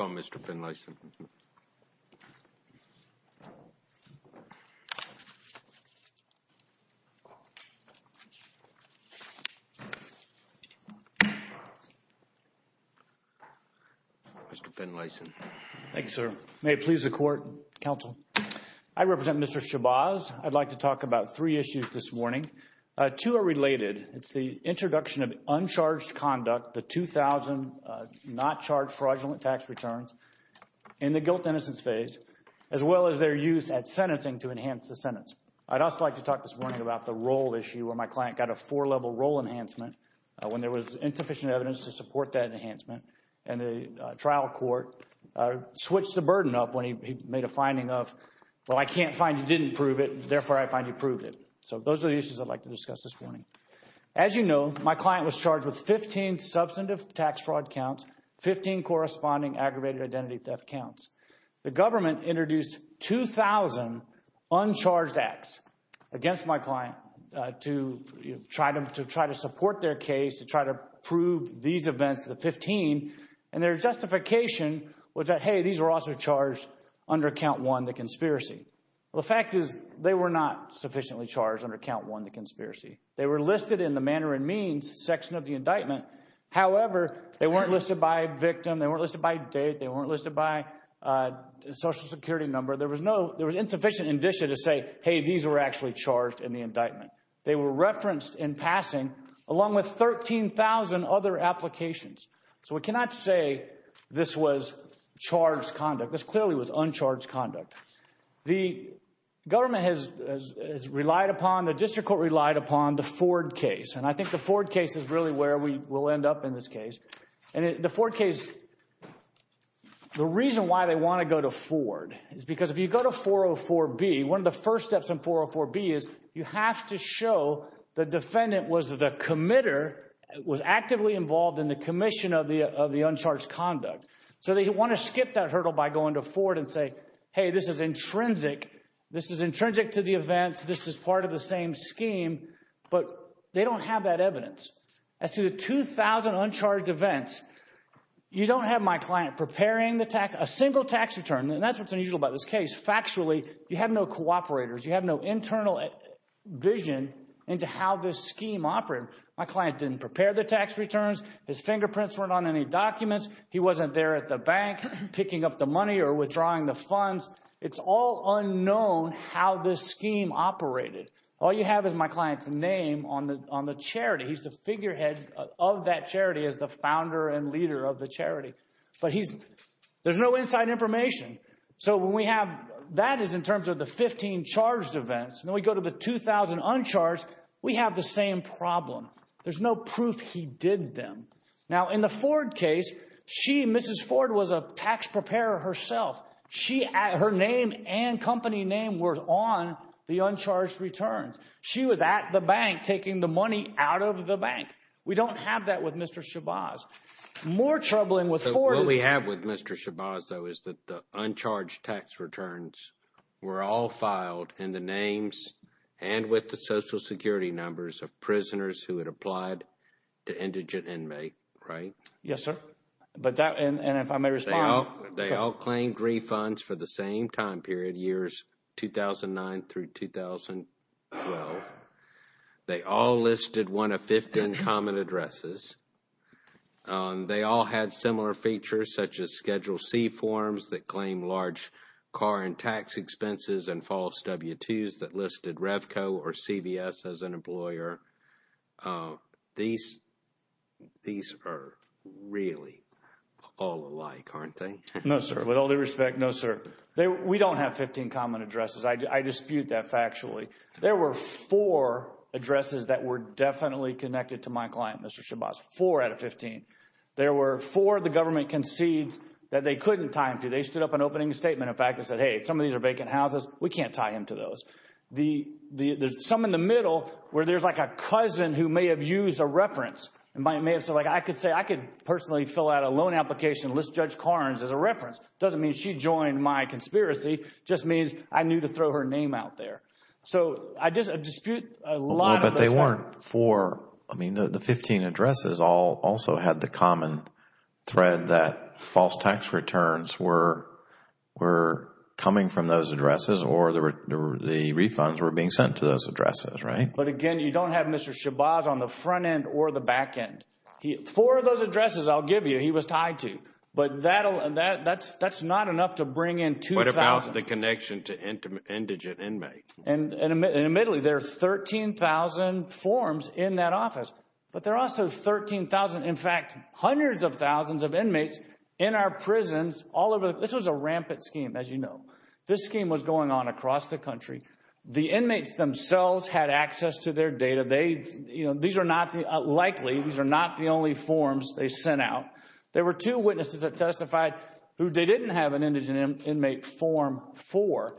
on Mr. Finlayson. Mr. Finlayson. Thank you, sir. May it please the court, counsel. I represent Mr. Shabazz. I'd like to talk about three issues this morning. Two are related. It's the introduction of uncharged conduct, the 2,000 not charged fraudulent tax returns in the guilt-innocence phase, as well as their use at sentencing to enhance the sentence. I'd also like to talk this morning about the role issue where my client got a four-level role enhancement when there was insufficient evidence to support that enhancement. And the trial court switched the burden up when he made a finding of, well, I can't find you didn't prove it, therefore I find you proved it. So those are the issues I'd like to discuss this morning. As you know, my client was charged with 15 substantive tax fraud counts, 15 corresponding aggravated identity theft counts. The government introduced 2,000 uncharged acts against my client to try to support their case, to try to prove these events, the 15, and their justification was that, hey, these were also charged under count one, the conspiracy. The fact is they were not sufficiently charged under count one, the conspiracy. They were listed in the manner and means section of the indictment. However, they weren't listed by victim, they weren't listed by date, they weren't listed by social security number. There was insufficient indicia to say, hey, these were actually charged in the indictment. They were referenced in passing along with 13,000 other applications. So we cannot say this was charged conduct. This clearly was uncharged conduct. The government has relied upon, the district court relied upon the Ford case. And I think the Ford case is really where we will end up in this case. And the Ford case, the reason why they want to go to Ford is because if you go to 404B, one of the first steps in 404B is you have to show the defendant was the committer, was actively involved in the commission of the uncharged conduct. So they want to skip that and go into Ford and say, hey, this is intrinsic, this is intrinsic to the events, this is part of the same scheme. But they don't have that evidence. As to the 2,000 uncharged events, you don't have my client preparing a single tax return, and that's what's unusual about this case. Factually, you have no cooperators, you have no internal vision into how this scheme operated. My client didn't prepare the tax returns, his fingerprints weren't on any documents, he wasn't there at the bank picking up the money or withdrawing the funds. It's all unknown how this scheme operated. All you have is my client's name on the charity. He's the figurehead of that charity as the founder and leader of the charity. But he's, there's no inside information. So when we have, that is in terms of the 15 charged events, and then we go to the 2,000 uncharged, we have the same problem. There's no proof he did them. Now, in the Ford case, she, Mrs. Ford, was a tax preparer herself. She, her name and company name were on the uncharged returns. She was at the bank taking the money out of the bank. We don't have that with Mr. Shabazz. More troubling with Ford, we have with Mr. Shabazz, though, is that the uncharged tax returns were all filed in the names and with the Social Security numbers of prisoners who had applied to Indigent Inmate, right? Yes, sir. But that, and if I may respond. They all claimed refunds for the same time period, years 2009 through 2012. They all listed one of 15 common addresses. They all had similar features such as Schedule C forms that claim large car and tax expenses and false W-2s that listed Revco or CVS as an employer. These, these are really all alike, aren't they? No, sir. With all due respect, no, sir. We don't have 15 common addresses. I dispute that factually. There were four addresses that were definitely connected to my client, Mr. Shabazz. Four out of opening statement, in fact, that said, hey, some of these are vacant houses. We can't tie him to those. The, there's some in the middle where there's like a cousin who may have used a reference and may have said, like, I could say, I could personally fill out a loan application, list Judge Karnes as a reference. Doesn't mean she joined my conspiracy, just means I knew to throw her name out there. So, I dispute a lot of that. But they weren't four, I mean, the 15 addresses all also had the common thread that false tax returns were coming from those addresses or the refunds were being sent to those addresses, right? But again, you don't have Mr. Shabazz on the front end or the back end. Four of those addresses, I'll give you, he was tied to, but that's not enough to bring in 2,000. What about the connection to indigent inmates? And admittedly, there are 13,000 forms in that office, but there are also 13,000, in fact, hundreds of thousands of inmates in our prisons all over. This was a rampant scheme, as you know. This scheme was going on across the country. The inmates themselves had access to their data. They, you know, these are not likely, these are not the only forms they sent out. There were two witnesses that testified who they didn't have an indigent inmate form for.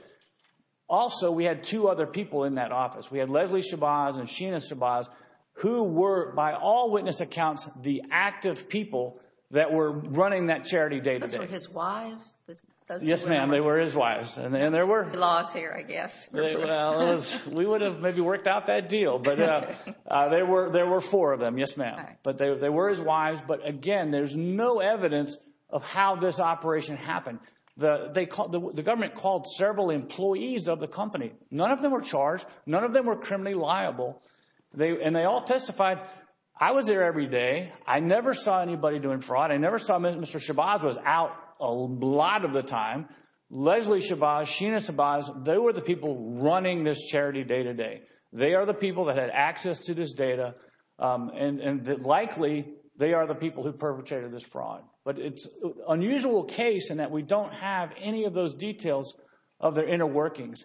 Also, we had two other people in that office. We had Leslie Shabazz and Sheena Shabazz, who were, by all witness accounts, the active people that were running that charity day-to-day. Those were his wives? Yes, ma'am. They were his wives. And there were... The laws here, I guess. We would have maybe worked out that deal, but there were four of them. Yes, ma'am. But they were his wives. But again, there's no evidence of how this operation happened. The government called several employees of the company. None of them were charged. None of them were criminally liable. And they all testified. I was there every day. I never saw anybody doing fraud. I never saw Mr. Shabazz was out a lot of the time. Leslie Shabazz, Sheena Shabazz, they were the people running this charity day-to-day. They are the people that had access to this data. And likely, they are the people who perpetrated this fraud. But it's an unusual case in that we don't have any of those details of their inner workings.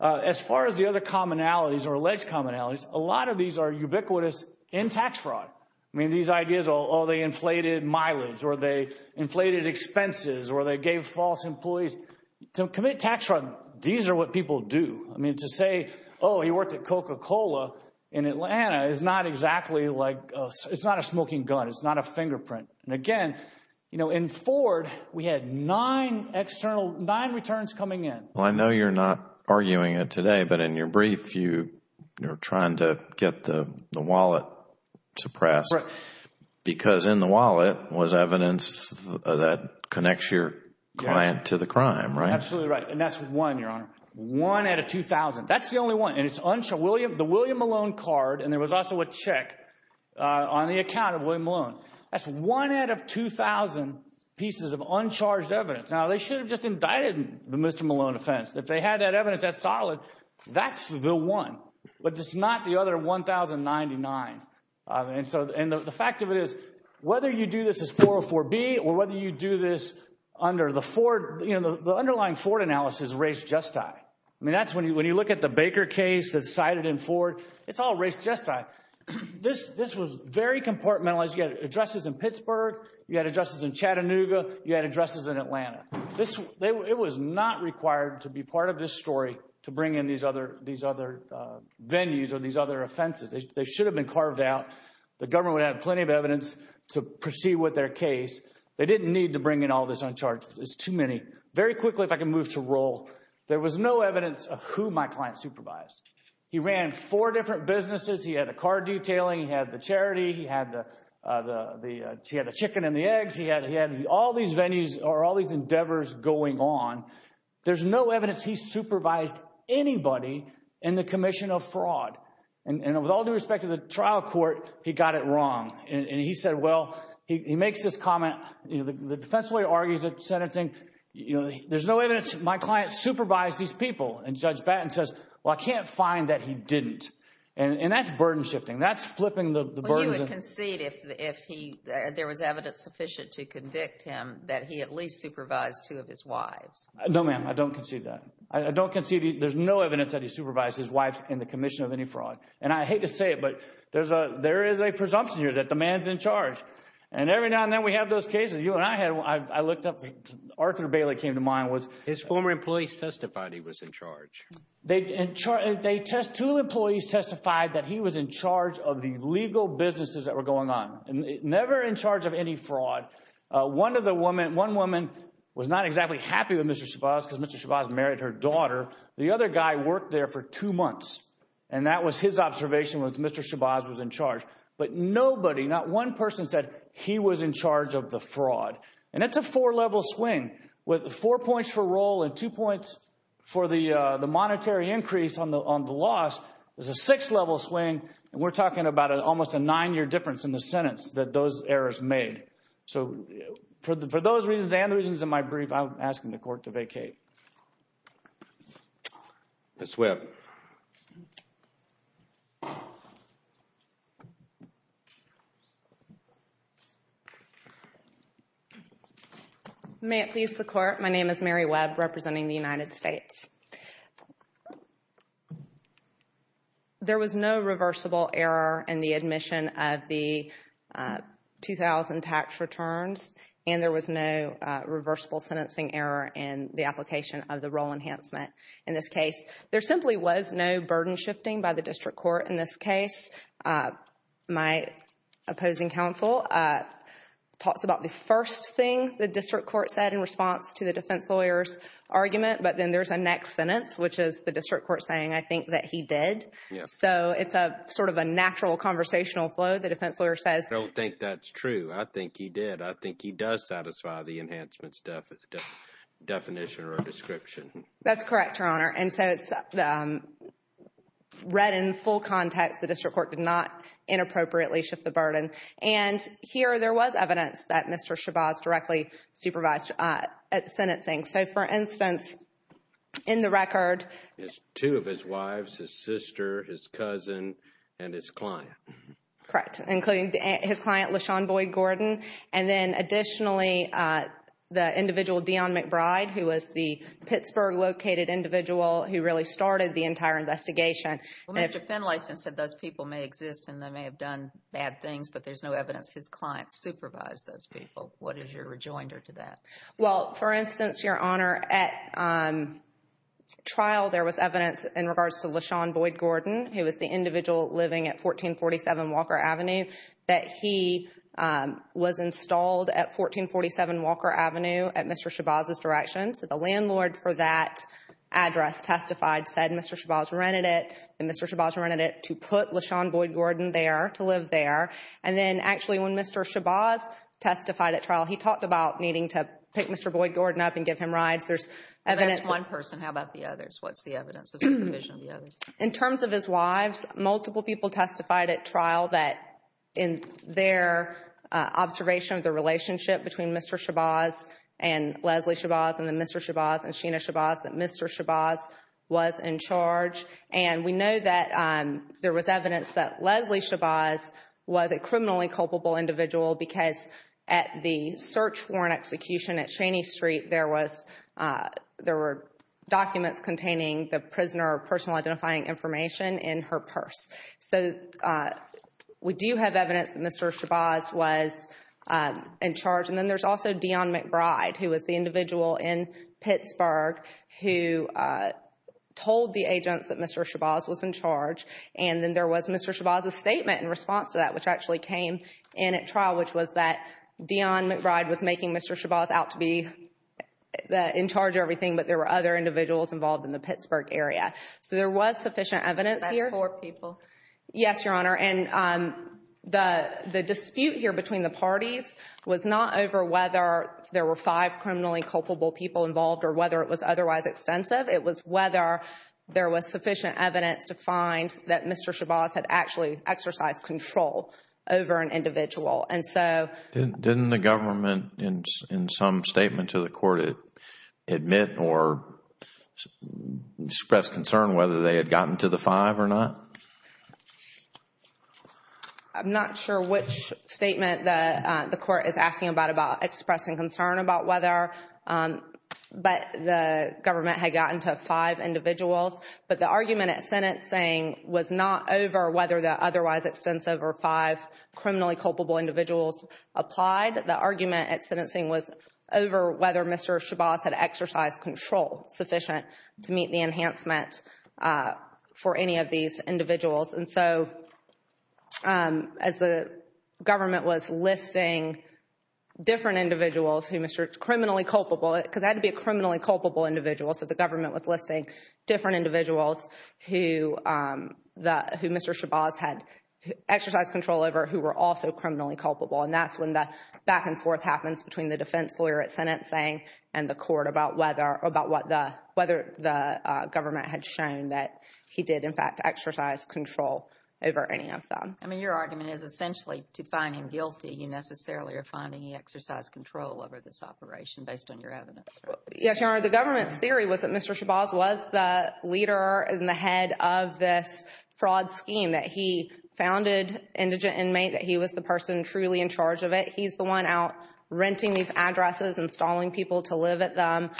As far as the other commonalities or alleged commonalities, a lot of these are ubiquitous in tax fraud. I mean, these ideas, oh, they inflated mileage, or they inflated expenses, or they gave false employees to commit tax fraud. These are what people do. I mean, to say, oh, he worked at Coca-Cola in Atlanta is not exactly like... It's not a smoking gun. It's not a fingerprint. And again, you know, in Ford, we had nine external, nine returns coming in. Well, I know you're not arguing it today, but in your brief, you're trying to get the wallet suppressed. Right. Because in the wallet was evidence that connects your client to the crime, right? Absolutely right. And that's one, Your Honor. One out of 2,000. That's the only one. And it's the William Malone card. And there was also a check on the account of William Malone. That's one out of 2,000 pieces of uncharged evidence. Now, they should have just indicted the Mr. Malone offense. If they had that evidence, that's solid. That's the one, but it's not the other 1,099. And so, and the fact of it is, whether you do this as 404B, or whether you do this under the Ford, you know, the underlying Ford analysis is race just tie. I mean, that's when you look at the Baker case that's cited in Ford. It's all race just tie. This was very compartmentalized. You had addresses in Pittsburgh. You had addresses in Chattanooga. You had addresses in Atlanta. It was not required to be part of this story to bring in these other venues or these other offenses. They should have been carved out. The government would have plenty of evidence to proceed with their case. They didn't need to bring in all this uncharged. It's too many. Very quickly, if I can move to roll. There was no evidence of who my client supervised. He ran four different businesses. He had a car detailing. He had the charity. He had the chicken and the eggs. He had all these venues or all these endeavors going on. There's no evidence he supervised anybody in the commission of fraud. And with all due respect to the trial court, he got it wrong. And he said, well, he makes this comment, you know, the defense lawyer argues that sentencing, you know, there's no evidence my client supervised these people. And Judge Batten says, well, I can't find that he didn't. And that's burden shifting. That's flipping the burdens. Concede if there was evidence sufficient to convict him that he at least supervised two of his wives. No, ma'am, I don't concede that. I don't concede. There's no evidence that he supervised his wife in the commission of any fraud. And I hate to say it, but there's a there is a presumption here that the man's in charge. And every now and then we have those cases. You and I had I looked up. Arthur Bailey came to mind was his former employees testified he was in charge. They they test two employees testified that he was in charge of the legal businesses that were going on and never in charge of any fraud. One of the women, one woman was not exactly happy with Mr. Shabazz because Mr. Shabazz married her daughter. The other guy worked there for two months, and that was his observation with Mr. Shabazz was in charge. But nobody, not one person said he was in charge of the fraud. And it's a four level swing with four points for role and two points for the the monetary increase on the on the loss. There's a six level swing. And we're talking about almost a nine year difference in the sentence that those errors made. So for those reasons and the reasons in my brief, I'm asking the court to vacate. May it please the court. My name is Mary Webb representing the United States. There was no reversible error in the admission of the 2,000 tax returns, and there was no reversible sentencing error in the application of the role enhancement. In this case, there simply was no burden shifting by the district court. In this case, my opposing counsel talks about the first thing the district court said in response to the defense lawyer's argument. But then there's a next sentence, which is the district court saying, I think that he did. So it's a sort of a natural conversational flow. The defense lawyer says, I don't think that's true. I think he did. I think he does satisfy the enhancement definition or description. That's correct, Your Honor. And so it's read in full context. The district court did not inappropriately shift the burden. And here, there was evidence that Mr. Chabaz directly supervised sentencing. So for instance, in the record. It's two of his wives, his sister, his cousin, and his client. Correct. Including his client, LaShawn Boyd Gordon. And then additionally, the individual Dionne McBride, who was the Pittsburgh located individual who really started the entire investigation. Mr. Finlayson said those people may exist and they may have done bad things, but there's no evidence his client supervised those people. What is your rejoinder to that? Well, for instance, Your Honor, at trial, there was evidence in regards to LaShawn Boyd Gordon, who was the individual living at 1447 Walker Avenue, that he was installed at 1447 Walker Avenue at Mr. Chabaz's direction. So the landlord for that address testified, said Mr. Chabaz rented it. And Mr. Chabaz rented it to put LaShawn Boyd Gordon there, to live there. And then actually, when Mr. Chabaz testified at trial, he talked about needing to pick Mr. Boyd Gordon up and give him rides. There's evidence. That's one person. How about the others? What's the evidence of supervision of the others? In terms of his wives, multiple people testified at trial that in their observation of the relationship between Mr. Chabaz and Leslie Chabaz and then Mr. Chabaz and Sheena Chabaz, that Mr. Chabaz was in charge. And we know that there was evidence that Leslie Chabaz was a criminally culpable individual because at the search warrant execution at Cheney Street, there were documents containing the prisoner personal identifying information in her purse. So we do have evidence that Mr. Chabaz was in charge. And then there's also Dion McBride, who was the individual in Pittsburgh, who told the agents that Mr. Chabaz was in charge. And then there was Mr. Chabaz's statement in response to that, which actually came in at trial, which was that Dion McBride was making Mr. Chabaz out to be in charge of everything, but there were other individuals involved in the Pittsburgh area. So there was sufficient evidence here. That's four people. Yes, Your Honor. And the dispute here between the parties was not over whether there were five criminally culpable people involved or whether it was otherwise extensive. It was whether there was sufficient evidence to find that Mr. Chabaz had actually exercised control over an individual. And so... Didn't the government in some statement to the court admit or express concern whether they had gotten to the five or not? I'm not sure which statement the court is asking about, about expressing concern about whether the government had gotten to five individuals. But the argument at sentencing was not over whether the otherwise extensive or five criminally culpable individuals applied. The argument at sentencing was over whether Mr. Chabaz had exercised control sufficient to meet the enhancement for any of these individuals. And so as the government was listing different individuals who Mr.... criminally culpable because it had to be a criminally culpable individual. So the government was listing different individuals who Mr. Chabaz had exercised control over who were also criminally culpable. And that's when the back and forth happens between the defense lawyer at sentencing and about whether the government had shown that he did in fact exercise control over any of them. I mean, your argument is essentially to find him guilty. You necessarily are finding he exercised control over this operation based on your evidence. Yes, Your Honor. The government's theory was that Mr. Chabaz was the leader and the head of this fraud scheme that he founded Indigent Inmate, that he was the person truly in charge of it. He's the one out renting these addresses, installing people to live at them.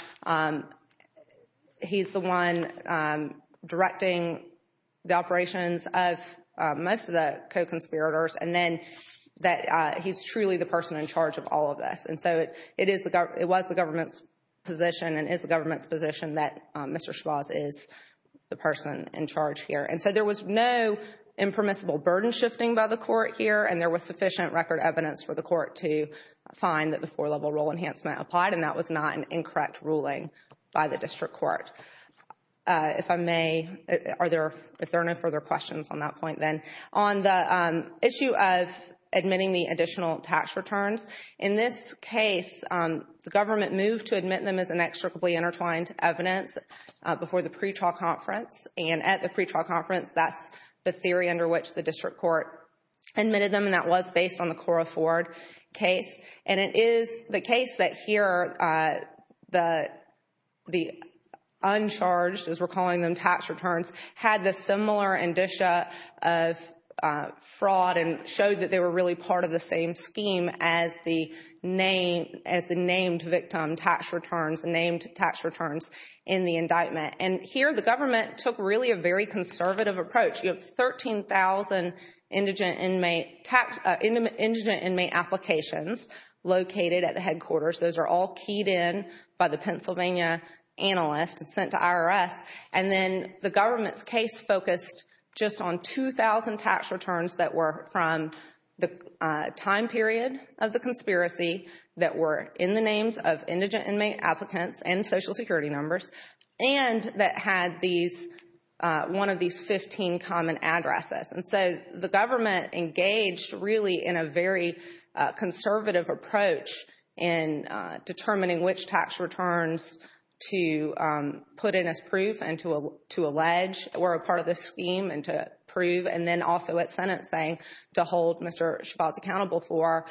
He's the one directing the operations of most of the co-conspirators. And then that he's truly the person in charge of all of this. And so it was the government's position and is the government's position that Mr. Chabaz is the person in charge here. And so there was no impermissible burden shifting by the court here. And there was sufficient record evidence for the court to find that the four-level rule enhancement applied. And that was not an incorrect ruling by the district court. If I may, are there no further questions on that point then? On the issue of admitting the additional tax returns, in this case, the government moved to admit them as inextricably intertwined evidence before the pretrial conference. And at the pretrial conference, that's the theory under which the district court admitted them. And that was based on the Cora Ford case. And it is the case that here, the uncharged, as we're calling them, tax returns, had the similar indicia of fraud and showed that they were really part of the same scheme as the named victim tax returns, named tax returns in the indictment. And here, the government took really a very conservative approach. You have 13,000 indigent inmate applications located at the headquarters. Those are all keyed in by the Pennsylvania analyst and sent to IRS. And then the government's case focused just on 2,000 tax returns that were from the time period of the conspiracy that were in the names of indigent inmate applicants and social And so the government engaged really in a very conservative approach in determining which tax returns to put in as proof and to allege were a part of the scheme and to prove and then also at sentencing to hold Mr. Shabazz accountable for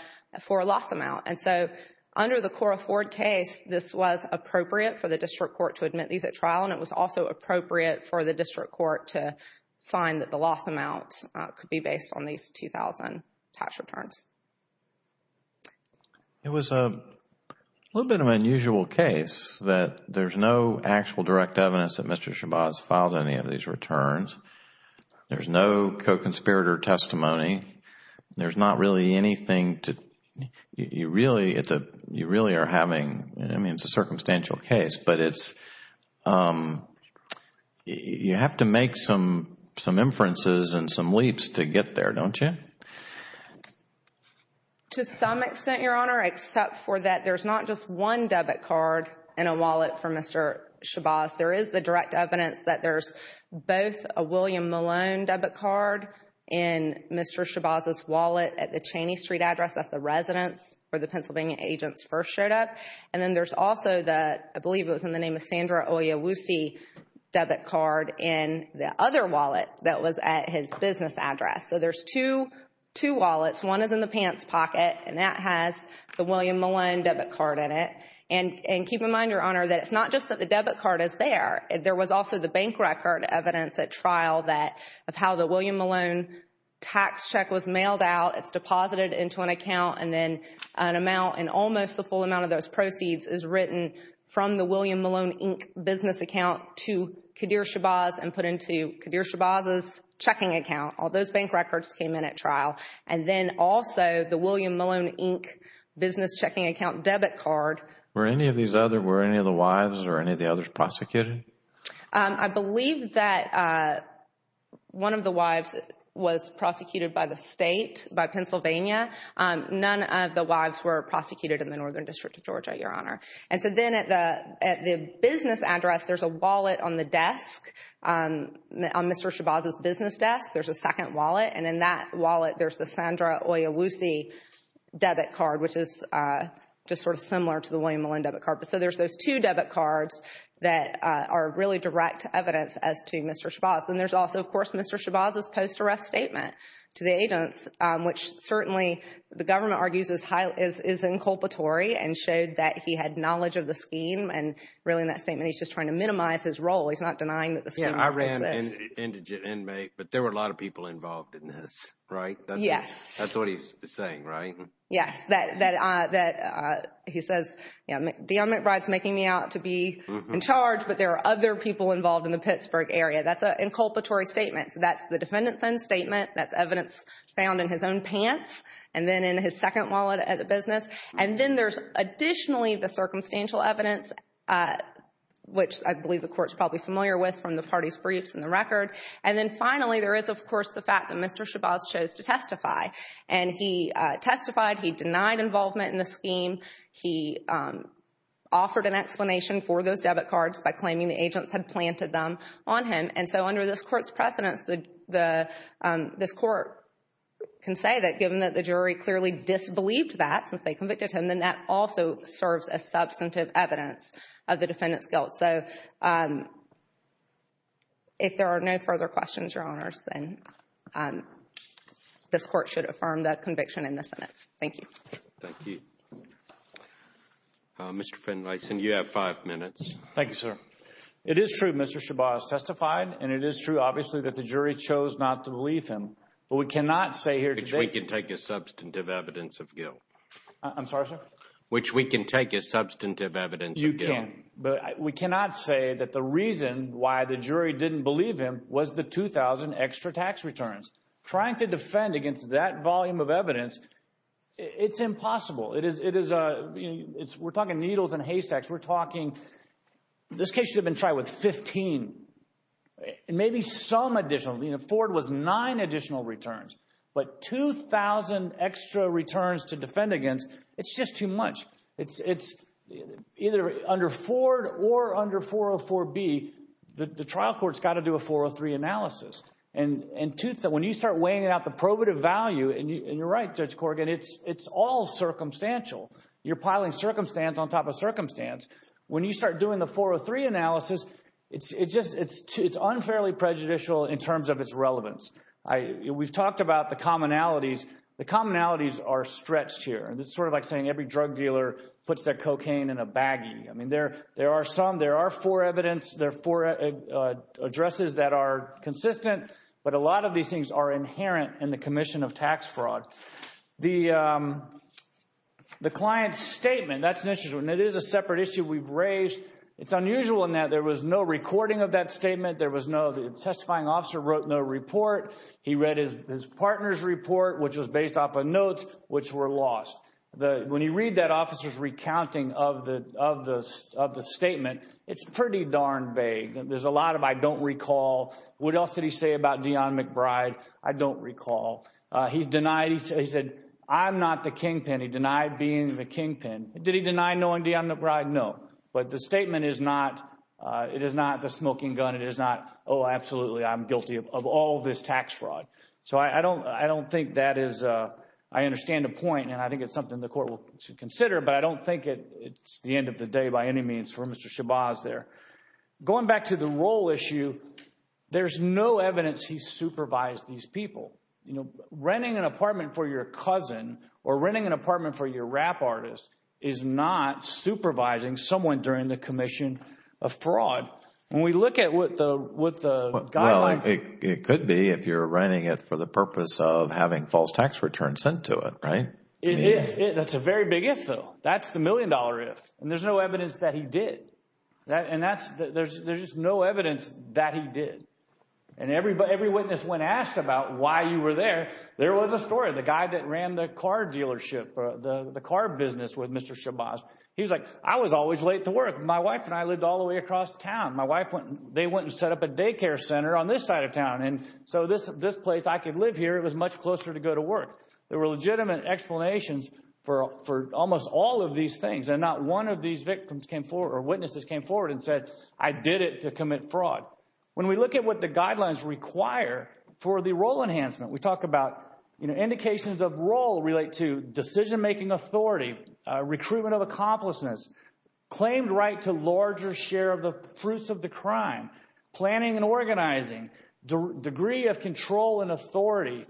a loss amount. And so under the Cora Ford case, this was appropriate for the district court to admit these at trial and it was also appropriate for the district court to find that the loss amount could be based on these 2,000 tax returns. It was a little bit of an unusual case that there's no actual direct evidence that Mr. Shabazz filed any of these returns. There's no co-conspirator testimony. There's not really anything to, you really are having, I mean, it's a circumstantial case, but you have to make some inferences and some leaps to get there, don't you? To some extent, Your Honor, except for that there's not just one debit card in a wallet for Mr. Shabazz. There is the direct evidence that there's both a William Malone debit card in Mr. Shabazz's wallet at the Cheney Street address. That's the residence where the Pennsylvania agents first showed up. And then there's also the, I believe it was in the name of Sandra Oyewusi debit card in the other wallet that was at his business address. So there's two wallets. One is in the pants pocket and that has the William Malone debit card in it. And keep in mind, Your Honor, that it's not just that the debit card is there. There was also the bank record evidence at trial of how the William Malone tax check was mailed out. It's deposited into an account and then an amount and almost the full amount of those proceeds is written from the William Malone, Inc. business account to Qadir Shabazz and put into Qadir Shabazz's checking account. All those bank records came in at trial. And then also the William Malone, Inc. business checking account debit card. Were any of these other, were any of the wives or any of the others prosecuted? I believe that one of the wives was prosecuted by the state, by Pennsylvania. None of the wives were prosecuted in the Northern District of Georgia, Your Honor. And so then at the business address, there's a wallet on the desk, on Mr. Shabazz's business desk, there's a second wallet. And in that wallet, there's the Sandra Oyewusi debit card, which is just sort of similar to the William Malone debit card. So there's those two debit cards that are really direct evidence as to Mr. Shabazz. And there's also, of course, Mr. Shabazz's post-arrest statement to the agents, which certainly the government argues is inculpatory and showed that he had knowledge of the scheme. And really in that statement, he's just trying to minimize his role. He's not denying that the scheme exists. Yeah, I ran an indigent inmate, but there were a lot of people involved in this, right? Yes. That's what he's saying, right? Yes, that he says, you know, Dion McBride's making me out to be in charge, but there are other people involved in the Pittsburgh area. That's an inculpatory statement. So that's the defendant's own statement. That's evidence found in his own pants and then in his second wallet at the business. And then there's additionally the circumstantial evidence, which I believe the Court's probably familiar with from the party's briefs and the record. And then finally, there is, of course, the fact that Mr. Shabazz chose to testify. And he testified. He denied involvement in the scheme. He offered an explanation for those debit cards by claiming the agents had planted them on him. And so under this Court's precedence, this Court can say that given that the jury clearly disbelieved that since they convicted him, then that also serves as substantive evidence of the defendant's guilt. So if there are no further questions, Your Honors, then this Court should affirm that conviction in the sentence. Thank you. Thank you. Mr. Finlayson, you have five minutes. Thank you, sir. It is true Mr. Shabazz testified. And it is true, obviously, that the jury chose not to believe him. But we cannot say here today. Which we can take as substantive evidence of guilt. I'm sorry, sir? Which we can take as substantive evidence of guilt. You can. But we cannot say that the reason why the jury didn't believe him was the 2,000 extra tax returns. Trying to defend against that volume of evidence, it's impossible. We're talking needles and haystacks. We're talking, this case should have been tried with 15, maybe some additional. Ford was nine additional returns. But 2,000 extra returns to defend against, it's just too much. It's either under Ford or under 404B, the trial court's got to do a 403 analysis. And when you start weighing out the probative value, and you're right, Judge Corrigan, it's all circumstantial. You're piling circumstance on top of circumstance. When you start doing the 403 analysis, it's unfairly prejudicial in terms of its relevance. We've talked about the commonalities. The commonalities are stretched here. It's sort of like saying every drug dealer puts their cocaine in a baggie. I mean, there are some. There are four evidence. There are four addresses that are consistent. But a lot of these things are inherent in the commission of tax fraud. The client's statement, that's an issue, and it is a separate issue we've raised. It's unusual in that there was no recording of that statement. There was no, the testifying officer wrote no report. He read his partner's report, which was based off of notes which were lost. When you read that officer's recounting of the statement, it's pretty darn vague. There's a lot of, I don't recall. What else did he say about Deon McBride? I don't recall. He's denied, he said, I'm not the kingpin. He denied being the kingpin. Did he deny knowing Deon McBride? No. But the statement is not, it is not the smoking gun. Oh, absolutely, I'm guilty of all this tax fraud. So I don't think that is, I understand the point, and I think it's something the court will consider, but I don't think it's the end of the day by any means for Mr. Shabazz there. Going back to the role issue, there's no evidence he supervised these people. Renting an apartment for your cousin or renting an apartment for your rap artist is not supervising someone during the commission of fraud. When we look at what the, what the guidelines. It could be if you're renting it for the purpose of having false tax returns sent to it, right? It is. That's a very big if, though. That's the million dollar if. And there's no evidence that he did. And that's, there's just no evidence that he did. And every witness, when asked about why you were there, there was a story. The guy that ran the car dealership, the car business with Mr. Shabazz, he was like, I was always late to work. My wife and I lived all the way across town. My wife went, they went and set up a daycare center on this side of town. And so this, this place, I could live here. It was much closer to go to work. There were legitimate explanations for, for almost all of these things. And not one of these victims came forward or witnesses came forward and said, I did it to commit fraud. When we look at what the guidelines require for the role enhancement, we talk about, you know, indications of role relate to decision-making authority, recruitment of accomplishments, claimed right to larger share of the fruits of the crime, planning and organizing, degree of control and authority.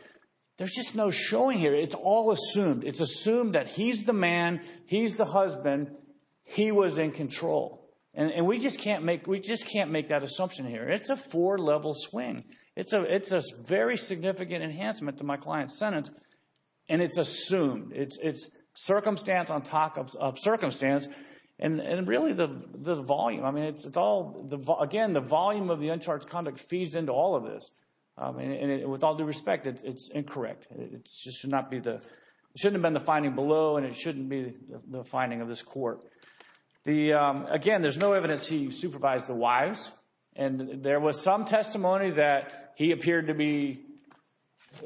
There's just no showing here. It's all assumed. It's assumed that he's the man, he's the husband, he was in control. And we just can't make, we just can't make that assumption here. It's a four-level swing. It's a, it's a very significant enhancement to my client's sentence. And it's assumed. It's, it's circumstance on top of circumstance. And really the, the volume, I mean, it's, it's all the, again, the volume of the uncharged conduct feeds into all of this. And with all due respect, it's incorrect. It's just should not be the, it shouldn't have been the finding below and it shouldn't be the finding of this court. The, again, there's no evidence he supervised the wives. And there was some testimony that he appeared to be,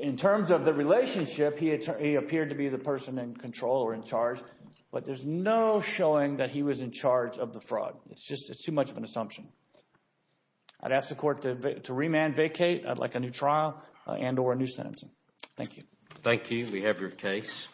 in terms of the relationship, he, he appeared to be the person in control or in charge. But there's no showing that he was in charge of the fraud. It's just, it's too much of an assumption. I'd ask the court to remand, vacate. I'd like a new trial and or a new sentencing. Thank you. Thank you. We have your case.